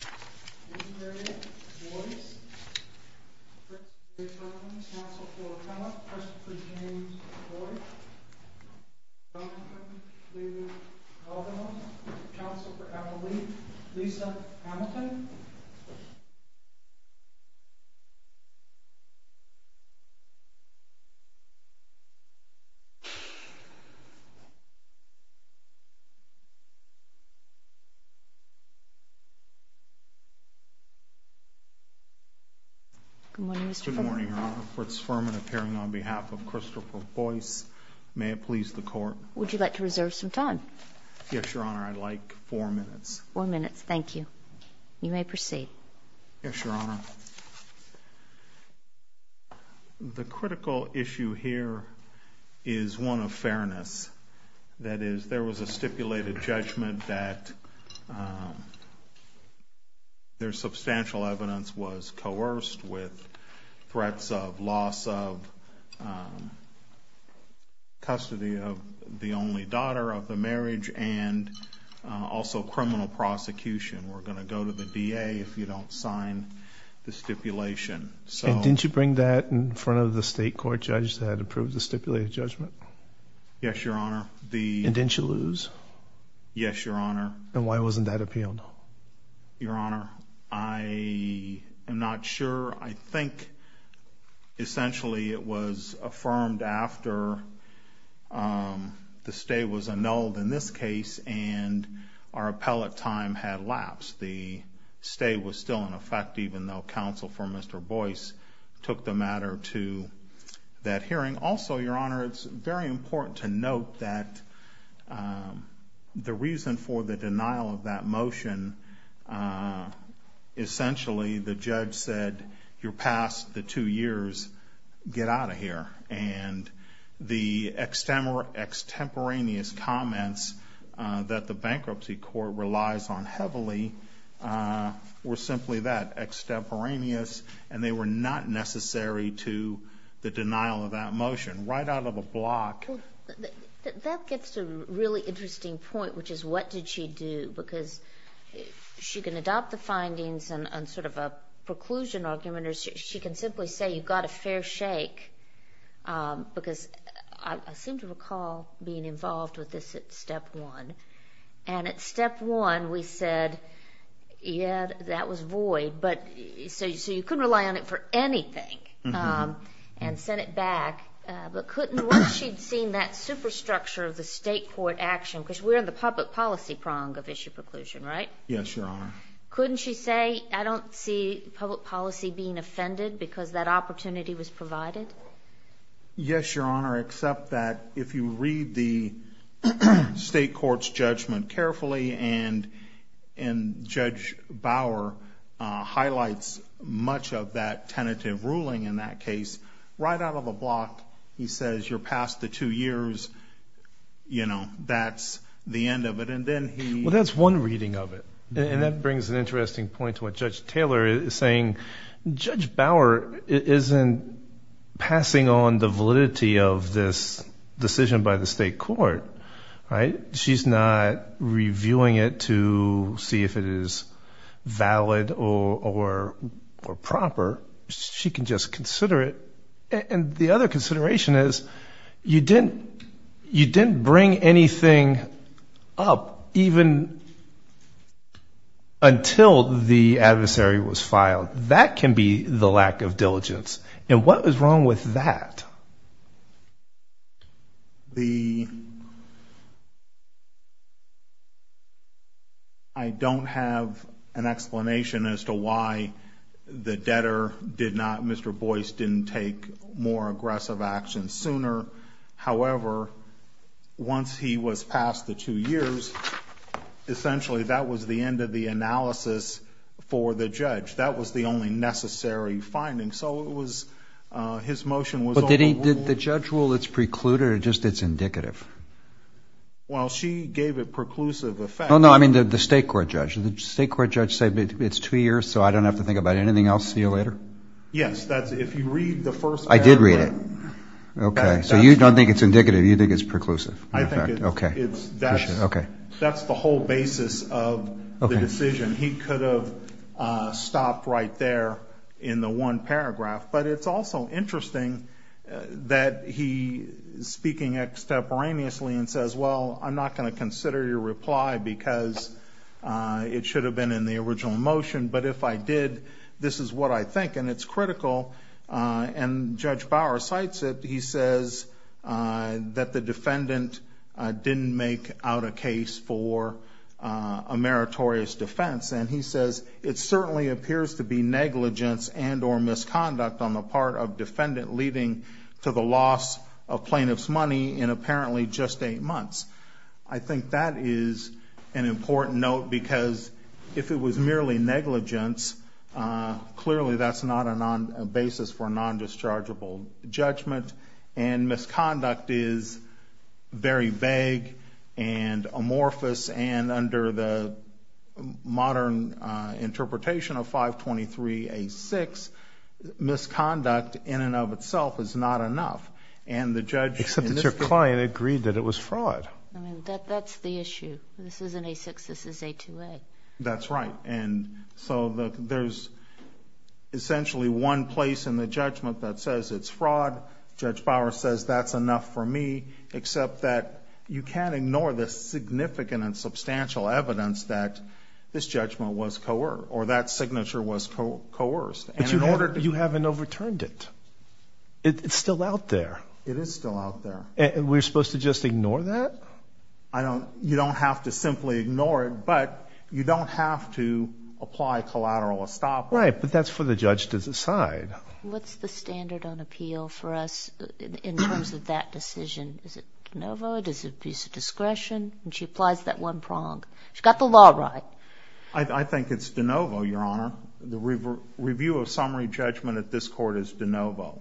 A. BOYCE F. BOURDON C. FORTELLA J. BOYCE L. ALVANO L. HAMILTON P. FURMAN Good morning, Mr. Furman. Good morning, Your Honor. Furtz Furman appearing on behalf of Christopher Boyce. May it please the Court. Would you like to reserve some time? Yes, Your Honor. I'd like four minutes. Four minutes. Thank you. You may proceed. Yes, Your Honor. The critical issue here is one of fairness. That is, there was a stipulated judgment that there's substantial evidence was coerced with threats of loss of custody of the only daughter of the marriage and also criminal prosecution. We're going to go to the DA if you don't sign the stipulation. And didn't you bring that in front of the state court judge that approved the stipulated judgment? Yes, Your Honor. And didn't you lose? Yes, Your Honor. And why wasn't that appealed? Your Honor, I am not sure. I think essentially it was affirmed after the stay was annulled in this case and our appellate time had lapsed. The stay was still in effect even though counsel for Mr. Boyce took the matter to that hearing. Also, Your Honor, it's very important to note that the reason for the denial of that motion, essentially the judge said, your past, the two years, get out of here. And the extemporaneous comments that the bankruptcy court relies on heavily were simply that, extemporaneous, and they were not necessary to the denial of that motion. Right out of a block. That gets to a really interesting point, which is what did she do? Because she can adopt the findings on sort of a preclusion argument or she can simply say you've got a fair shake because I seem to recall being involved with this at step one. And at step one we said, yeah, that was void, so you couldn't rely on it for anything and sent it back. But once she'd seen that superstructure of the state court action, because we're in the public policy prong of issue preclusion, right? Yes, Your Honor. Couldn't she say I don't see public policy being offended because that opportunity was provided? Yes, Your Honor, except that if you read the state court's judgment carefully and Judge Bauer highlights much of that tentative ruling in that case, right out of a block he says you're past the two years, you know, that's the end of it. Well, that's one reading of it, and that brings an interesting point to what Judge Taylor is saying. Judge Bauer isn't passing on the validity of this decision by the state court, right? She's not reviewing it to see if it is valid or proper. She can just consider it. And the other consideration is you didn't bring anything up even until the adversary was filed. That can be the lack of diligence. And what was wrong with that? The ---- I don't have an explanation as to why the debtor did not, Mr. Boyce, didn't take more aggressive action sooner. However, once he was past the two years, essentially that was the end of the analysis for the judge. That was the only necessary finding. So it was his motion was overruled. But did the judge rule it's precluded or just it's indicative? Well, she gave it preclusive effect. Oh, no, I mean the state court judge. The state court judge said it's two years, so I don't have to think about anything else, see you later? Yes, that's if you read the first paragraph. I did read it. Okay. So you don't think it's indicative. You think it's preclusive. I think it's that's the whole basis of the decision. He could have stopped right there in the one paragraph. But it's also interesting that he is speaking extemporaneously and says, well, I'm not going to consider your reply because it should have been in the original motion. But if I did, this is what I think. And it's critical. And Judge Bauer cites it. He says that the defendant didn't make out a case for a meritorious defense. And he says it certainly appears to be negligence and or misconduct on the part of defendant leading to the loss of plaintiff's money in apparently just eight months. I think that is an important note because if it was merely negligence, clearly that's not a basis for a non-dischargeable judgment. And misconduct is very vague and amorphous, and under the modern interpretation of 523A6, misconduct in and of itself is not enough. Except that your client agreed that it was fraud. That's the issue. This isn't A6. This is A2A. That's right. And so there's essentially one place in the judgment that says it's fraud. Judge Bauer says that's enough for me, except that you can't ignore the significant and substantial evidence that this judgment was coerced or that signature was coerced. But you haven't overturned it. It's still out there. It is still out there. And we're supposed to just ignore that? You don't have to simply ignore it, but you don't have to apply collateral estoppel. Right, but that's for the judge to decide. What's the standard on appeal for us in terms of that decision? Is it de novo? Does it abuse of discretion? And she applies that one prong. She's got the law right. I think it's de novo, Your Honor. The review of summary judgment at this court is de novo.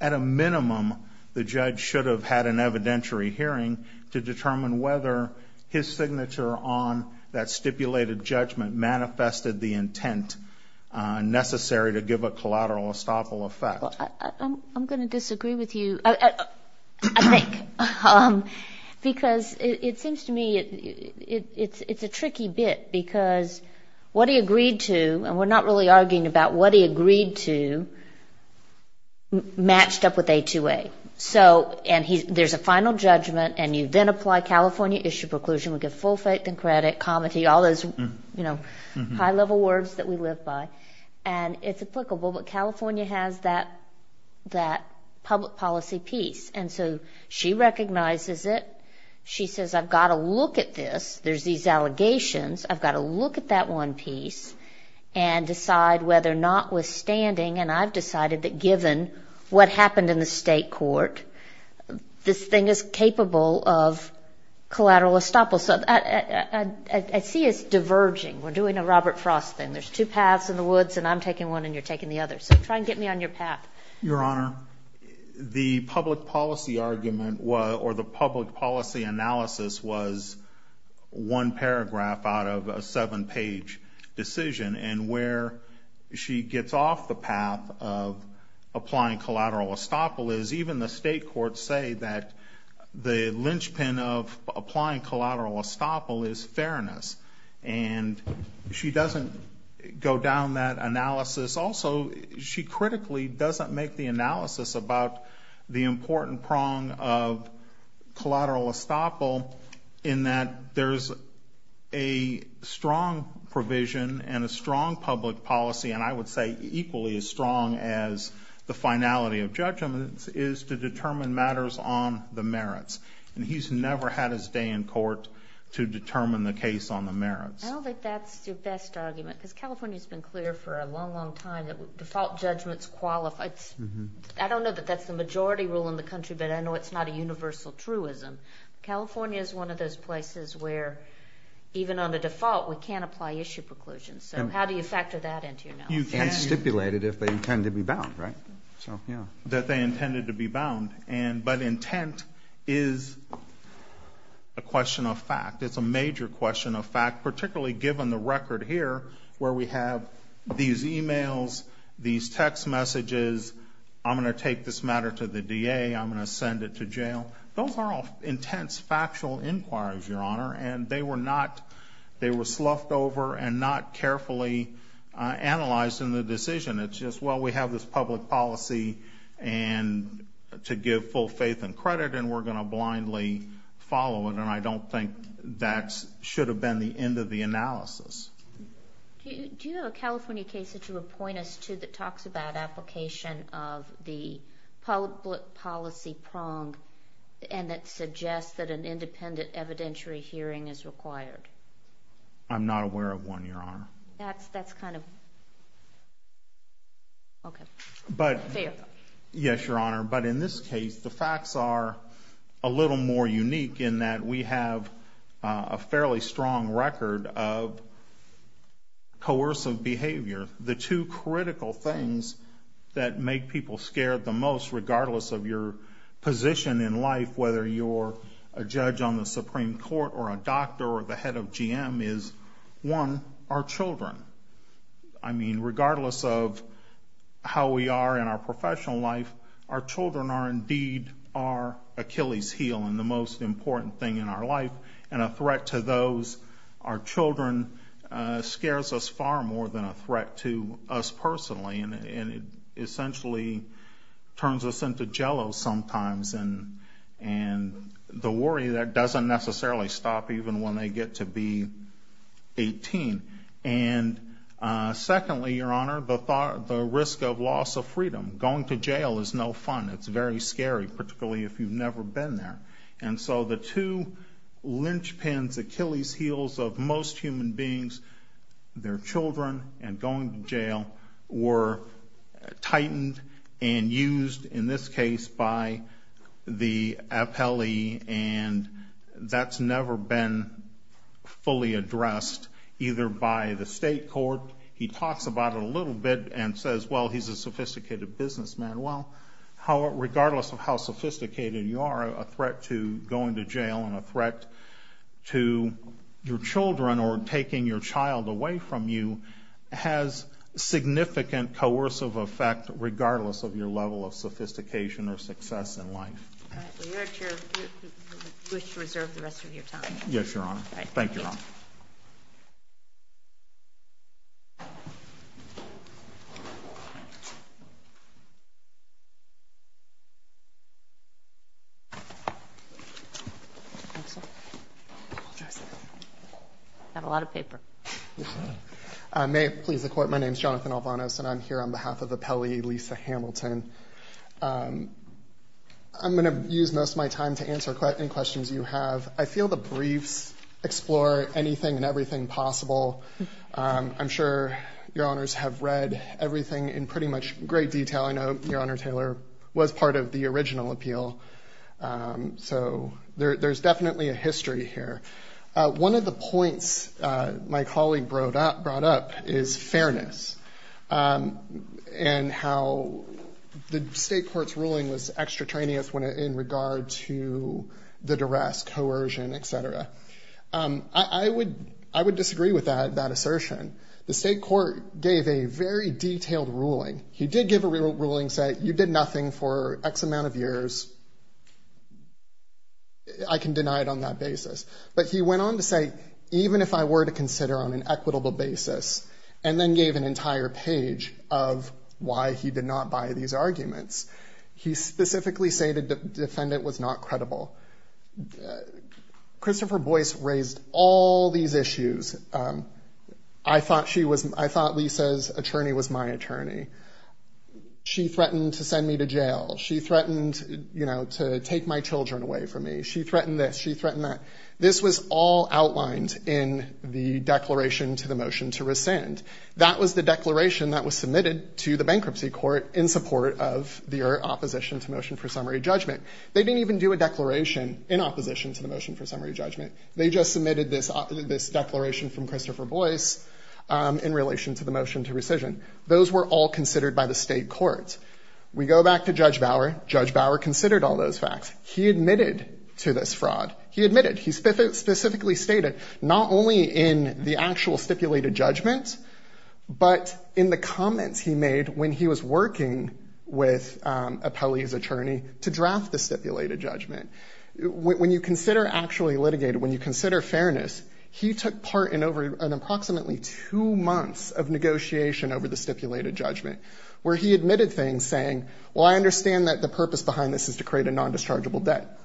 At a minimum, the judge should have had an evidentiary hearing to determine whether his signature on that stipulated judgment manifested the intent necessary to give a collateral estoppel effect. I'm going to disagree with you, I think, because it seems to me it's a tricky bit, because what he agreed to, and we're not really arguing about what he agreed to, matched up with A2A. So, and there's a final judgment, and you then apply California issue preclusion. We give full faith and credit, comity, all those, you know, high-level words that we live by. And it's applicable, but California has that public policy piece. And so she recognizes it. She says, I've got to look at this. There's these allegations. I've got to look at that one piece and decide whether or notwithstanding, and I've decided that given what happened in the state court, this thing is capable of collateral estoppel. So I see it's diverging. We're doing a Robert Frost thing. There's two paths in the woods, and I'm taking one and you're taking the other. So try and get me on your path. Your Honor, the public policy argument or the public policy analysis was one paragraph out of a seven-page decision, and where she gets off the path of applying collateral estoppel is even the state courts say that the linchpin of applying collateral estoppel is fairness. And she doesn't go down that analysis. Also, she critically doesn't make the analysis about the important prong of collateral estoppel in that there's a strong provision and a strong public policy, and I would say equally as strong as the finality of judgments, is to determine matters on the merits. And he's never had his day in court to determine the case on the merits. I don't think that's the best argument because California's been clear for a long, long time that default judgments qualify. I don't know that that's the majority rule in the country, but I know it's not a universal truism. California is one of those places where even on the default we can't apply issue preclusions. So how do you factor that into your analysis? And stipulate it if they intend to be bound, right? That they intended to be bound, but intent is a question of fact. It's a major question of fact, particularly given the record here where we have these e-mails, these text messages, I'm going to take this matter to the DA, I'm going to send it to jail. Those are all intense, factual inquiries, Your Honor, and they were sloughed over and not carefully analyzed in the decision. It's just, well, we have this public policy to give full faith and credit, and we're going to blindly follow it, and I don't think that should have been the end of the analysis. Do you have a California case that you would point us to that talks about application of the public policy prong and that suggests that an independent evidentiary hearing is required? I'm not aware of one, Your Honor. That's kind of fair. Yes, Your Honor, but in this case, the facts are a little more unique in that we have a fairly strong record of coercive behavior. The two critical things that make people scared the most, regardless of your position in life, whether you're a judge on the Supreme Court or a doctor or the head of GM, is, one, our children. I mean, regardless of how we are in our professional life, our children are indeed our Achilles' heel and the most important thing in our life, and a threat to those, our children, scares us far more than a threat to us personally, and it essentially turns us into jellos sometimes and the worry that doesn't necessarily stop even when they get to be 18. And secondly, Your Honor, the risk of loss of freedom. Going to jail is no fun. It's very scary, particularly if you've never been there. And so the two linchpins, Achilles' heels, of most human beings, their children and going to jail, were tightened and used, in this case, by the appellee, and that's never been fully addressed either by the state court. He talks about it a little bit and says, well, he's a sophisticated businessman. Well, regardless of how sophisticated you are, a threat to going to jail and a threat to your children or taking your child away from you has significant coercive effect, regardless of your level of sophistication or success in life. All right. Well, Your Honor, do you wish to reserve the rest of your time? Yes, Your Honor. Thank you, Your Honor. Got a lot of paper. May I please quote? My name is Jonathan Alvarez, and I'm here on behalf of appellee Lisa Hamilton. I'm going to use most of my time to answer any questions you have. I feel the briefs explore anything and everything possible. I'm sure Your Honors have read everything in pretty much great detail. I know Your Honor Taylor was part of the original appeal, so there's definitely a history here. One of the points my colleague brought up is fairness and how the state court's ruling was extratraneous in regard to the duress, coercion, et cetera. I would disagree with that assertion. The state court gave a very detailed ruling. He did give a ruling saying you did nothing for X amount of years. I can deny it on that basis. But he went on to say even if I were to consider on an equitable basis and then gave an entire page of why he did not buy these arguments, he specifically stated the defendant was not credible. Christopher Boyce raised all these issues. I thought Lisa's attorney was my attorney. She threatened to send me to jail. She threatened to take my children away from me. She threatened this. She threatened that. This was all outlined in the declaration to the motion to rescind. That was the declaration that was submitted to the bankruptcy court in support of their opposition to motion for summary judgment. They didn't even do a declaration in opposition to the motion for summary judgment. They just submitted this declaration from Christopher Boyce in relation to the motion to rescind. Those were all considered by the state court. We go back to Judge Bauer. Judge Bauer considered all those facts. He admitted to this fraud. He admitted. He specifically stated not only in the actual stipulated judgment, but in the comments he made when he was working with Apelli's attorney to draft the stipulated judgment. When you consider actually litigated, when you consider fairness, he took part in over approximately two months of negotiation over the stipulated judgment where he admitted things saying, well, I understand that the purpose behind this is to create a nondischargeable debt.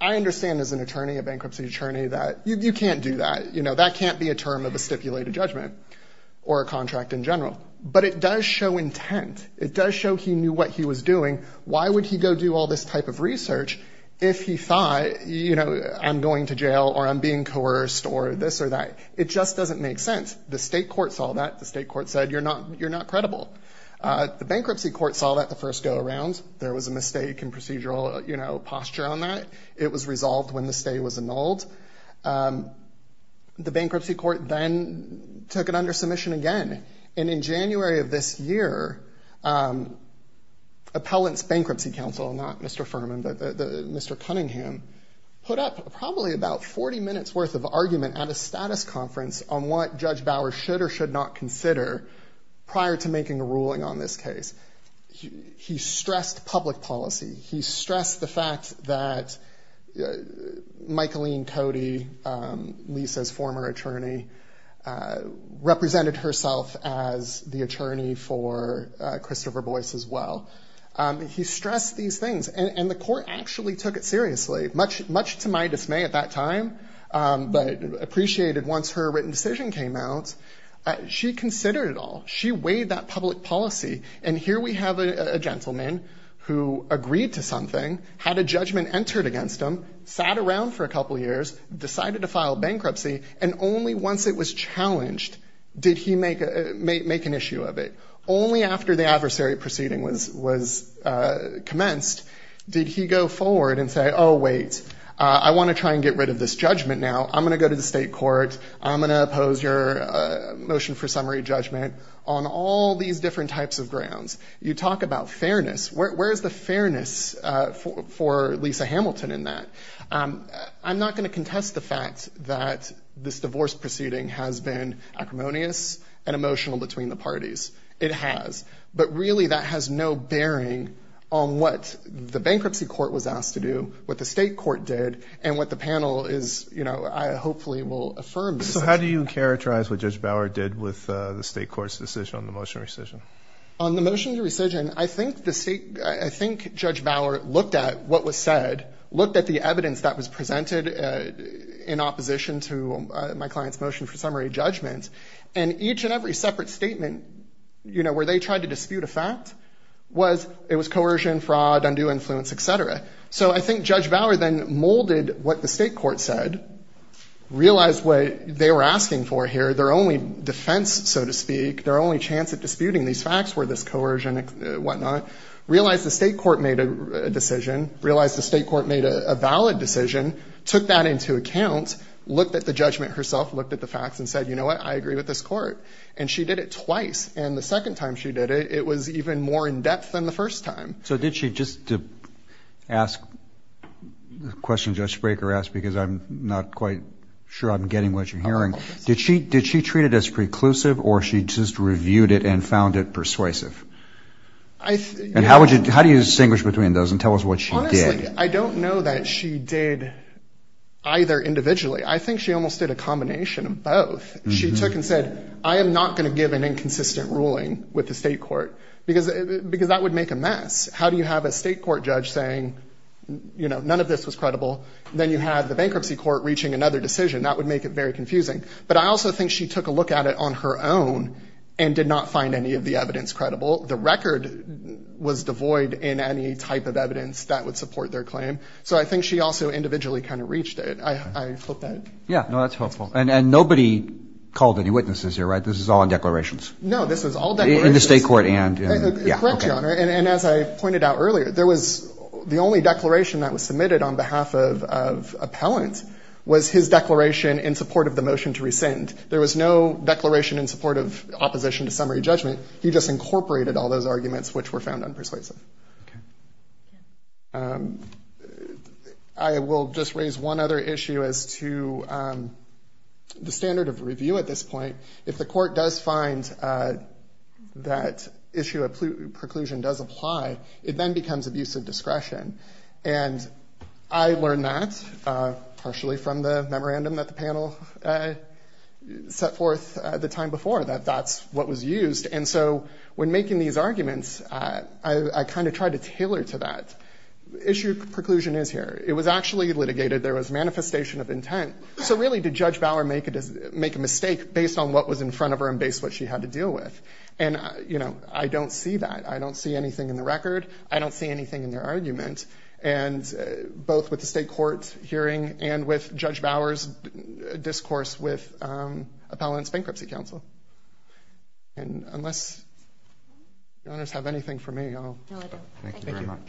I understand as an attorney, a bankruptcy attorney, that you can't do that. You know, that can't be a term of a stipulated judgment or a contract in general. But it does show intent. It does show he knew what he was doing. Why would he go do all this type of research if he thought, you know, I'm going to jail or I'm being coerced or this or that? It just doesn't make sense. The state court saw that. The state court said you're not credible. The bankruptcy court saw that the first go around. There was a mistake in procedural, you know, posture on that. It was resolved when the stay was annulled. The bankruptcy court then took it under submission again. And in January of this year, Apelli's bankruptcy counsel, not Mr. Furman, but Mr. Cunningham, put up probably about 40 minutes worth of argument at a status conference on what Judge Bauer should or should not consider prior to making a ruling on this case. He stressed public policy. He stressed the fact that Michaelene Cody, Lisa's former attorney, represented herself as the attorney for Christopher Boyce as well. He stressed these things. And the court actually took it seriously, much to my dismay at that time, but appreciated once her written decision came out. She considered it all. She weighed that public policy. And here we have a gentleman who agreed to something, had a judgment entered against him, sat around for a couple years, decided to file bankruptcy, and only once it was challenged did he make an issue of it. Only after the adversary proceeding was commenced did he go forward and say, oh, wait, I want to try and get rid of this judgment now. I'm going to go to the state court. I'm going to oppose your motion for summary judgment. On all these different types of grounds, you talk about fairness. Where is the fairness for Lisa Hamilton in that? I'm not going to contest the fact that this divorce proceeding has been acrimonious and emotional between the parties. It has. But really that has no bearing on what the bankruptcy court was asked to do, what the state court did, and what the panel is, you know, hopefully will affirm. So how do you characterize what Judge Bauer did with the state court's decision on the motion to rescission? On the motion to rescission, I think Judge Bauer looked at what was said, looked at the evidence that was presented in opposition to my client's motion for summary judgment, and each and every separate statement, you know, where they tried to dispute a fact, it was coercion, fraud, undue influence, et cetera. So I think Judge Bauer then molded what the state court said, realized what they were asking for here, their only defense, so to speak, their only chance at disputing these facts were this coercion and whatnot, realized the state court made a decision, realized the state court made a valid decision, took that into account, looked at the judgment herself, looked at the facts, and said, you know what, I agree with this court. And she did it twice. And the second time she did it, it was even more in-depth than the first time. So did she just ask the question Judge Spraker asked, because I'm not quite sure I'm getting what you're hearing, did she treat it as preclusive or she just reviewed it and found it persuasive? And how do you distinguish between those and tell us what she did? Honestly, I don't know that she did either individually. I think she almost did a combination of both. She took and said, I am not going to give an inconsistent ruling with the state court, because that would make a mess. How do you have a state court judge saying, you know, none of this was credible? Then you have the bankruptcy court reaching another decision. That would make it very confusing. But I also think she took a look at it on her own and did not find any of the evidence credible. The record was devoid in any type of evidence that would support their claim. So I think she also individually kind of reached it. I flipped that. Yeah, no, that's helpful. And nobody called any witnesses here, right? This is all in declarations. No, this is all declarations. In the state court and? Correct, Your Honor. And as I pointed out earlier, there was the only declaration that was submitted on behalf of appellant was his declaration in support of the motion to rescind. There was no declaration in support of opposition to summary judgment. He just incorporated all those arguments, which were found unpersuasive. Okay. I will just raise one other issue as to the standard of review at this point. If the court does find that issue of preclusion does apply, it then becomes abusive discretion. And I learned that partially from the memorandum that the panel set forth the time before, that that's what was used. And so when making these arguments, I kind of tried to tailor to that. Issue of preclusion is here. It was actually litigated. There was manifestation of intent. So really, did Judge Bower make a mistake based on what was in front of her and based on what she had to deal with? And, you know, I don't see that. I don't see anything in the record. I don't see anything in their argument. And both with the state court hearing and with Judge Bower's discourse with appellant's bankruptcy counsel. And unless you have anything for me, I'll. No, I don't. Thank you very much. Thank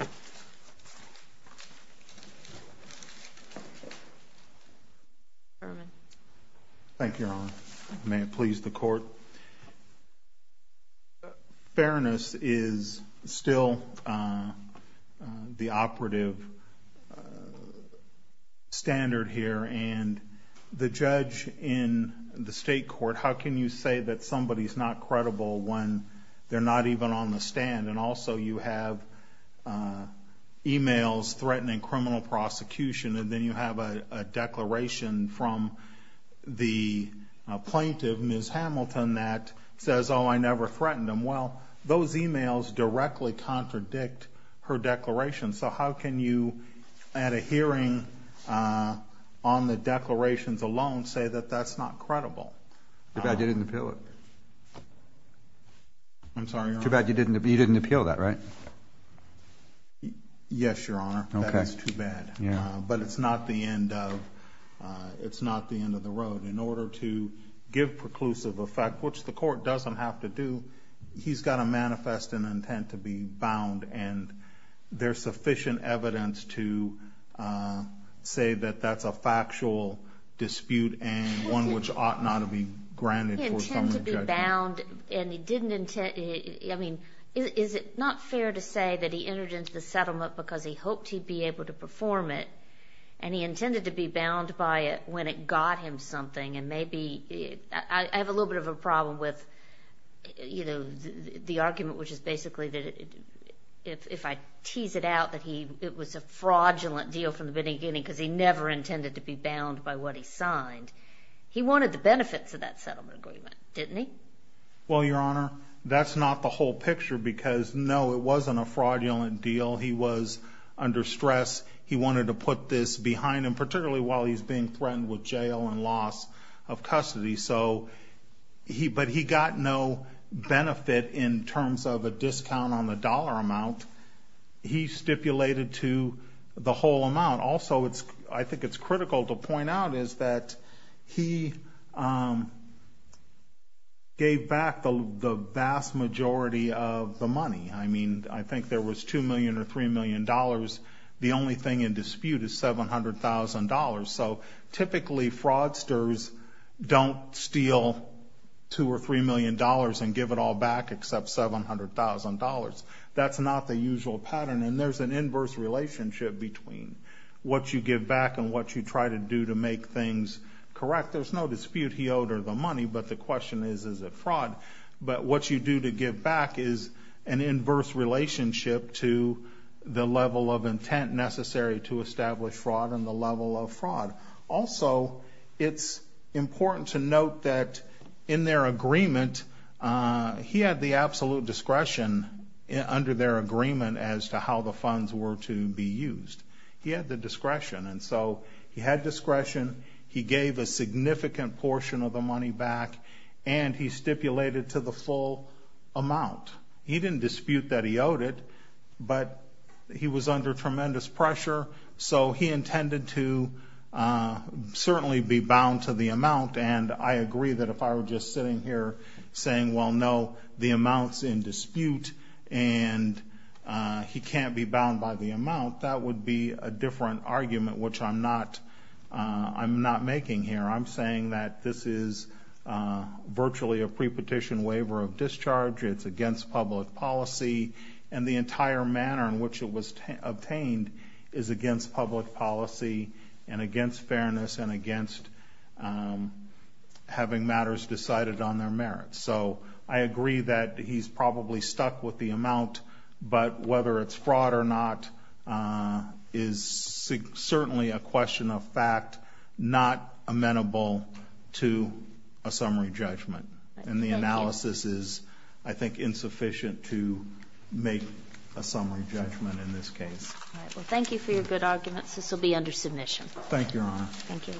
you. Thank you, Your Honor. May it please the court. Fairness is still the operative standard here, and the judge in the state court, how can you say that somebody's not credible when they're not even on the stand? And also you have e-mails threatening criminal prosecution, and then you have a declaration from the plaintiff, Ms. Hamilton, that says, oh, I never threatened them. Well, those e-mails directly contradict her declaration. So how can you at a hearing on the declarations alone say that that's not credible? Too bad you didn't appeal it. I'm sorry, Your Honor. Too bad you didn't appeal that, right? Yes, Your Honor. That is too bad. Yeah. But it's not the end of the road. In order to give preclusive effect, which the court doesn't have to do, he's got to manifest an intent to be bound, and there's sufficient evidence to say that that's a factual dispute and one which ought not to be granted for some of the judges. He intended to be bound, and he didn't intend to. I mean, is it not fair to say that he entered into the settlement because he hoped he'd be able to perform it, and he intended to be bound by it when it got him something? I have a little bit of a problem with the argument, which is basically that if I tease it out that it was a fraudulent deal from the beginning because he never intended to be bound by what he signed. He wanted the benefits of that settlement agreement, didn't he? Well, Your Honor, that's not the whole picture because, no, it wasn't a fraudulent deal. He was under stress. He wanted to put this behind him, particularly while he's being threatened with jail and loss of custody. But he got no benefit in terms of a discount on the dollar amount. He stipulated to the whole amount. Also, I think it's critical to point out is that he gave back the vast majority of the money. I mean, I think there was $2 million or $3 million. The only thing in dispute is $700,000. So typically fraudsters don't steal $2 million or $3 million and give it all back except $700,000. That's not the usual pattern, and there's an inverse relationship between what you give back and what you try to do to make things correct. There's no dispute he owed her the money, but the question is, is it fraud? But what you do to give back is an inverse relationship to the level of intent necessary to establish fraud and the level of fraud. Also, it's important to note that in their agreement, he had the absolute discretion under their agreement as to how the funds were to be used. He had the discretion, and so he had discretion. He gave a significant portion of the money back, and he stipulated to the full amount. He didn't dispute that he owed it, but he was under tremendous pressure, so he intended to certainly be bound to the amount. And I agree that if I were just sitting here saying, well, no, the amount's in dispute and he can't be bound by the amount, that would be a different argument, which I'm not making here. I'm saying that this is virtually a prepetition waiver of discharge. It's against public policy, and the entire manner in which it was obtained is against public policy and against fairness and against having matters decided on their merits. So I agree that he's probably stuck with the amount, but whether it's fraud or not is certainly a question of fact not amenable to a summary judgment. And the analysis is, I think, insufficient to make a summary judgment in this case. All right. Well, thank you for your good arguments. This will be under submission. Thank you, Your Honor. Thank you.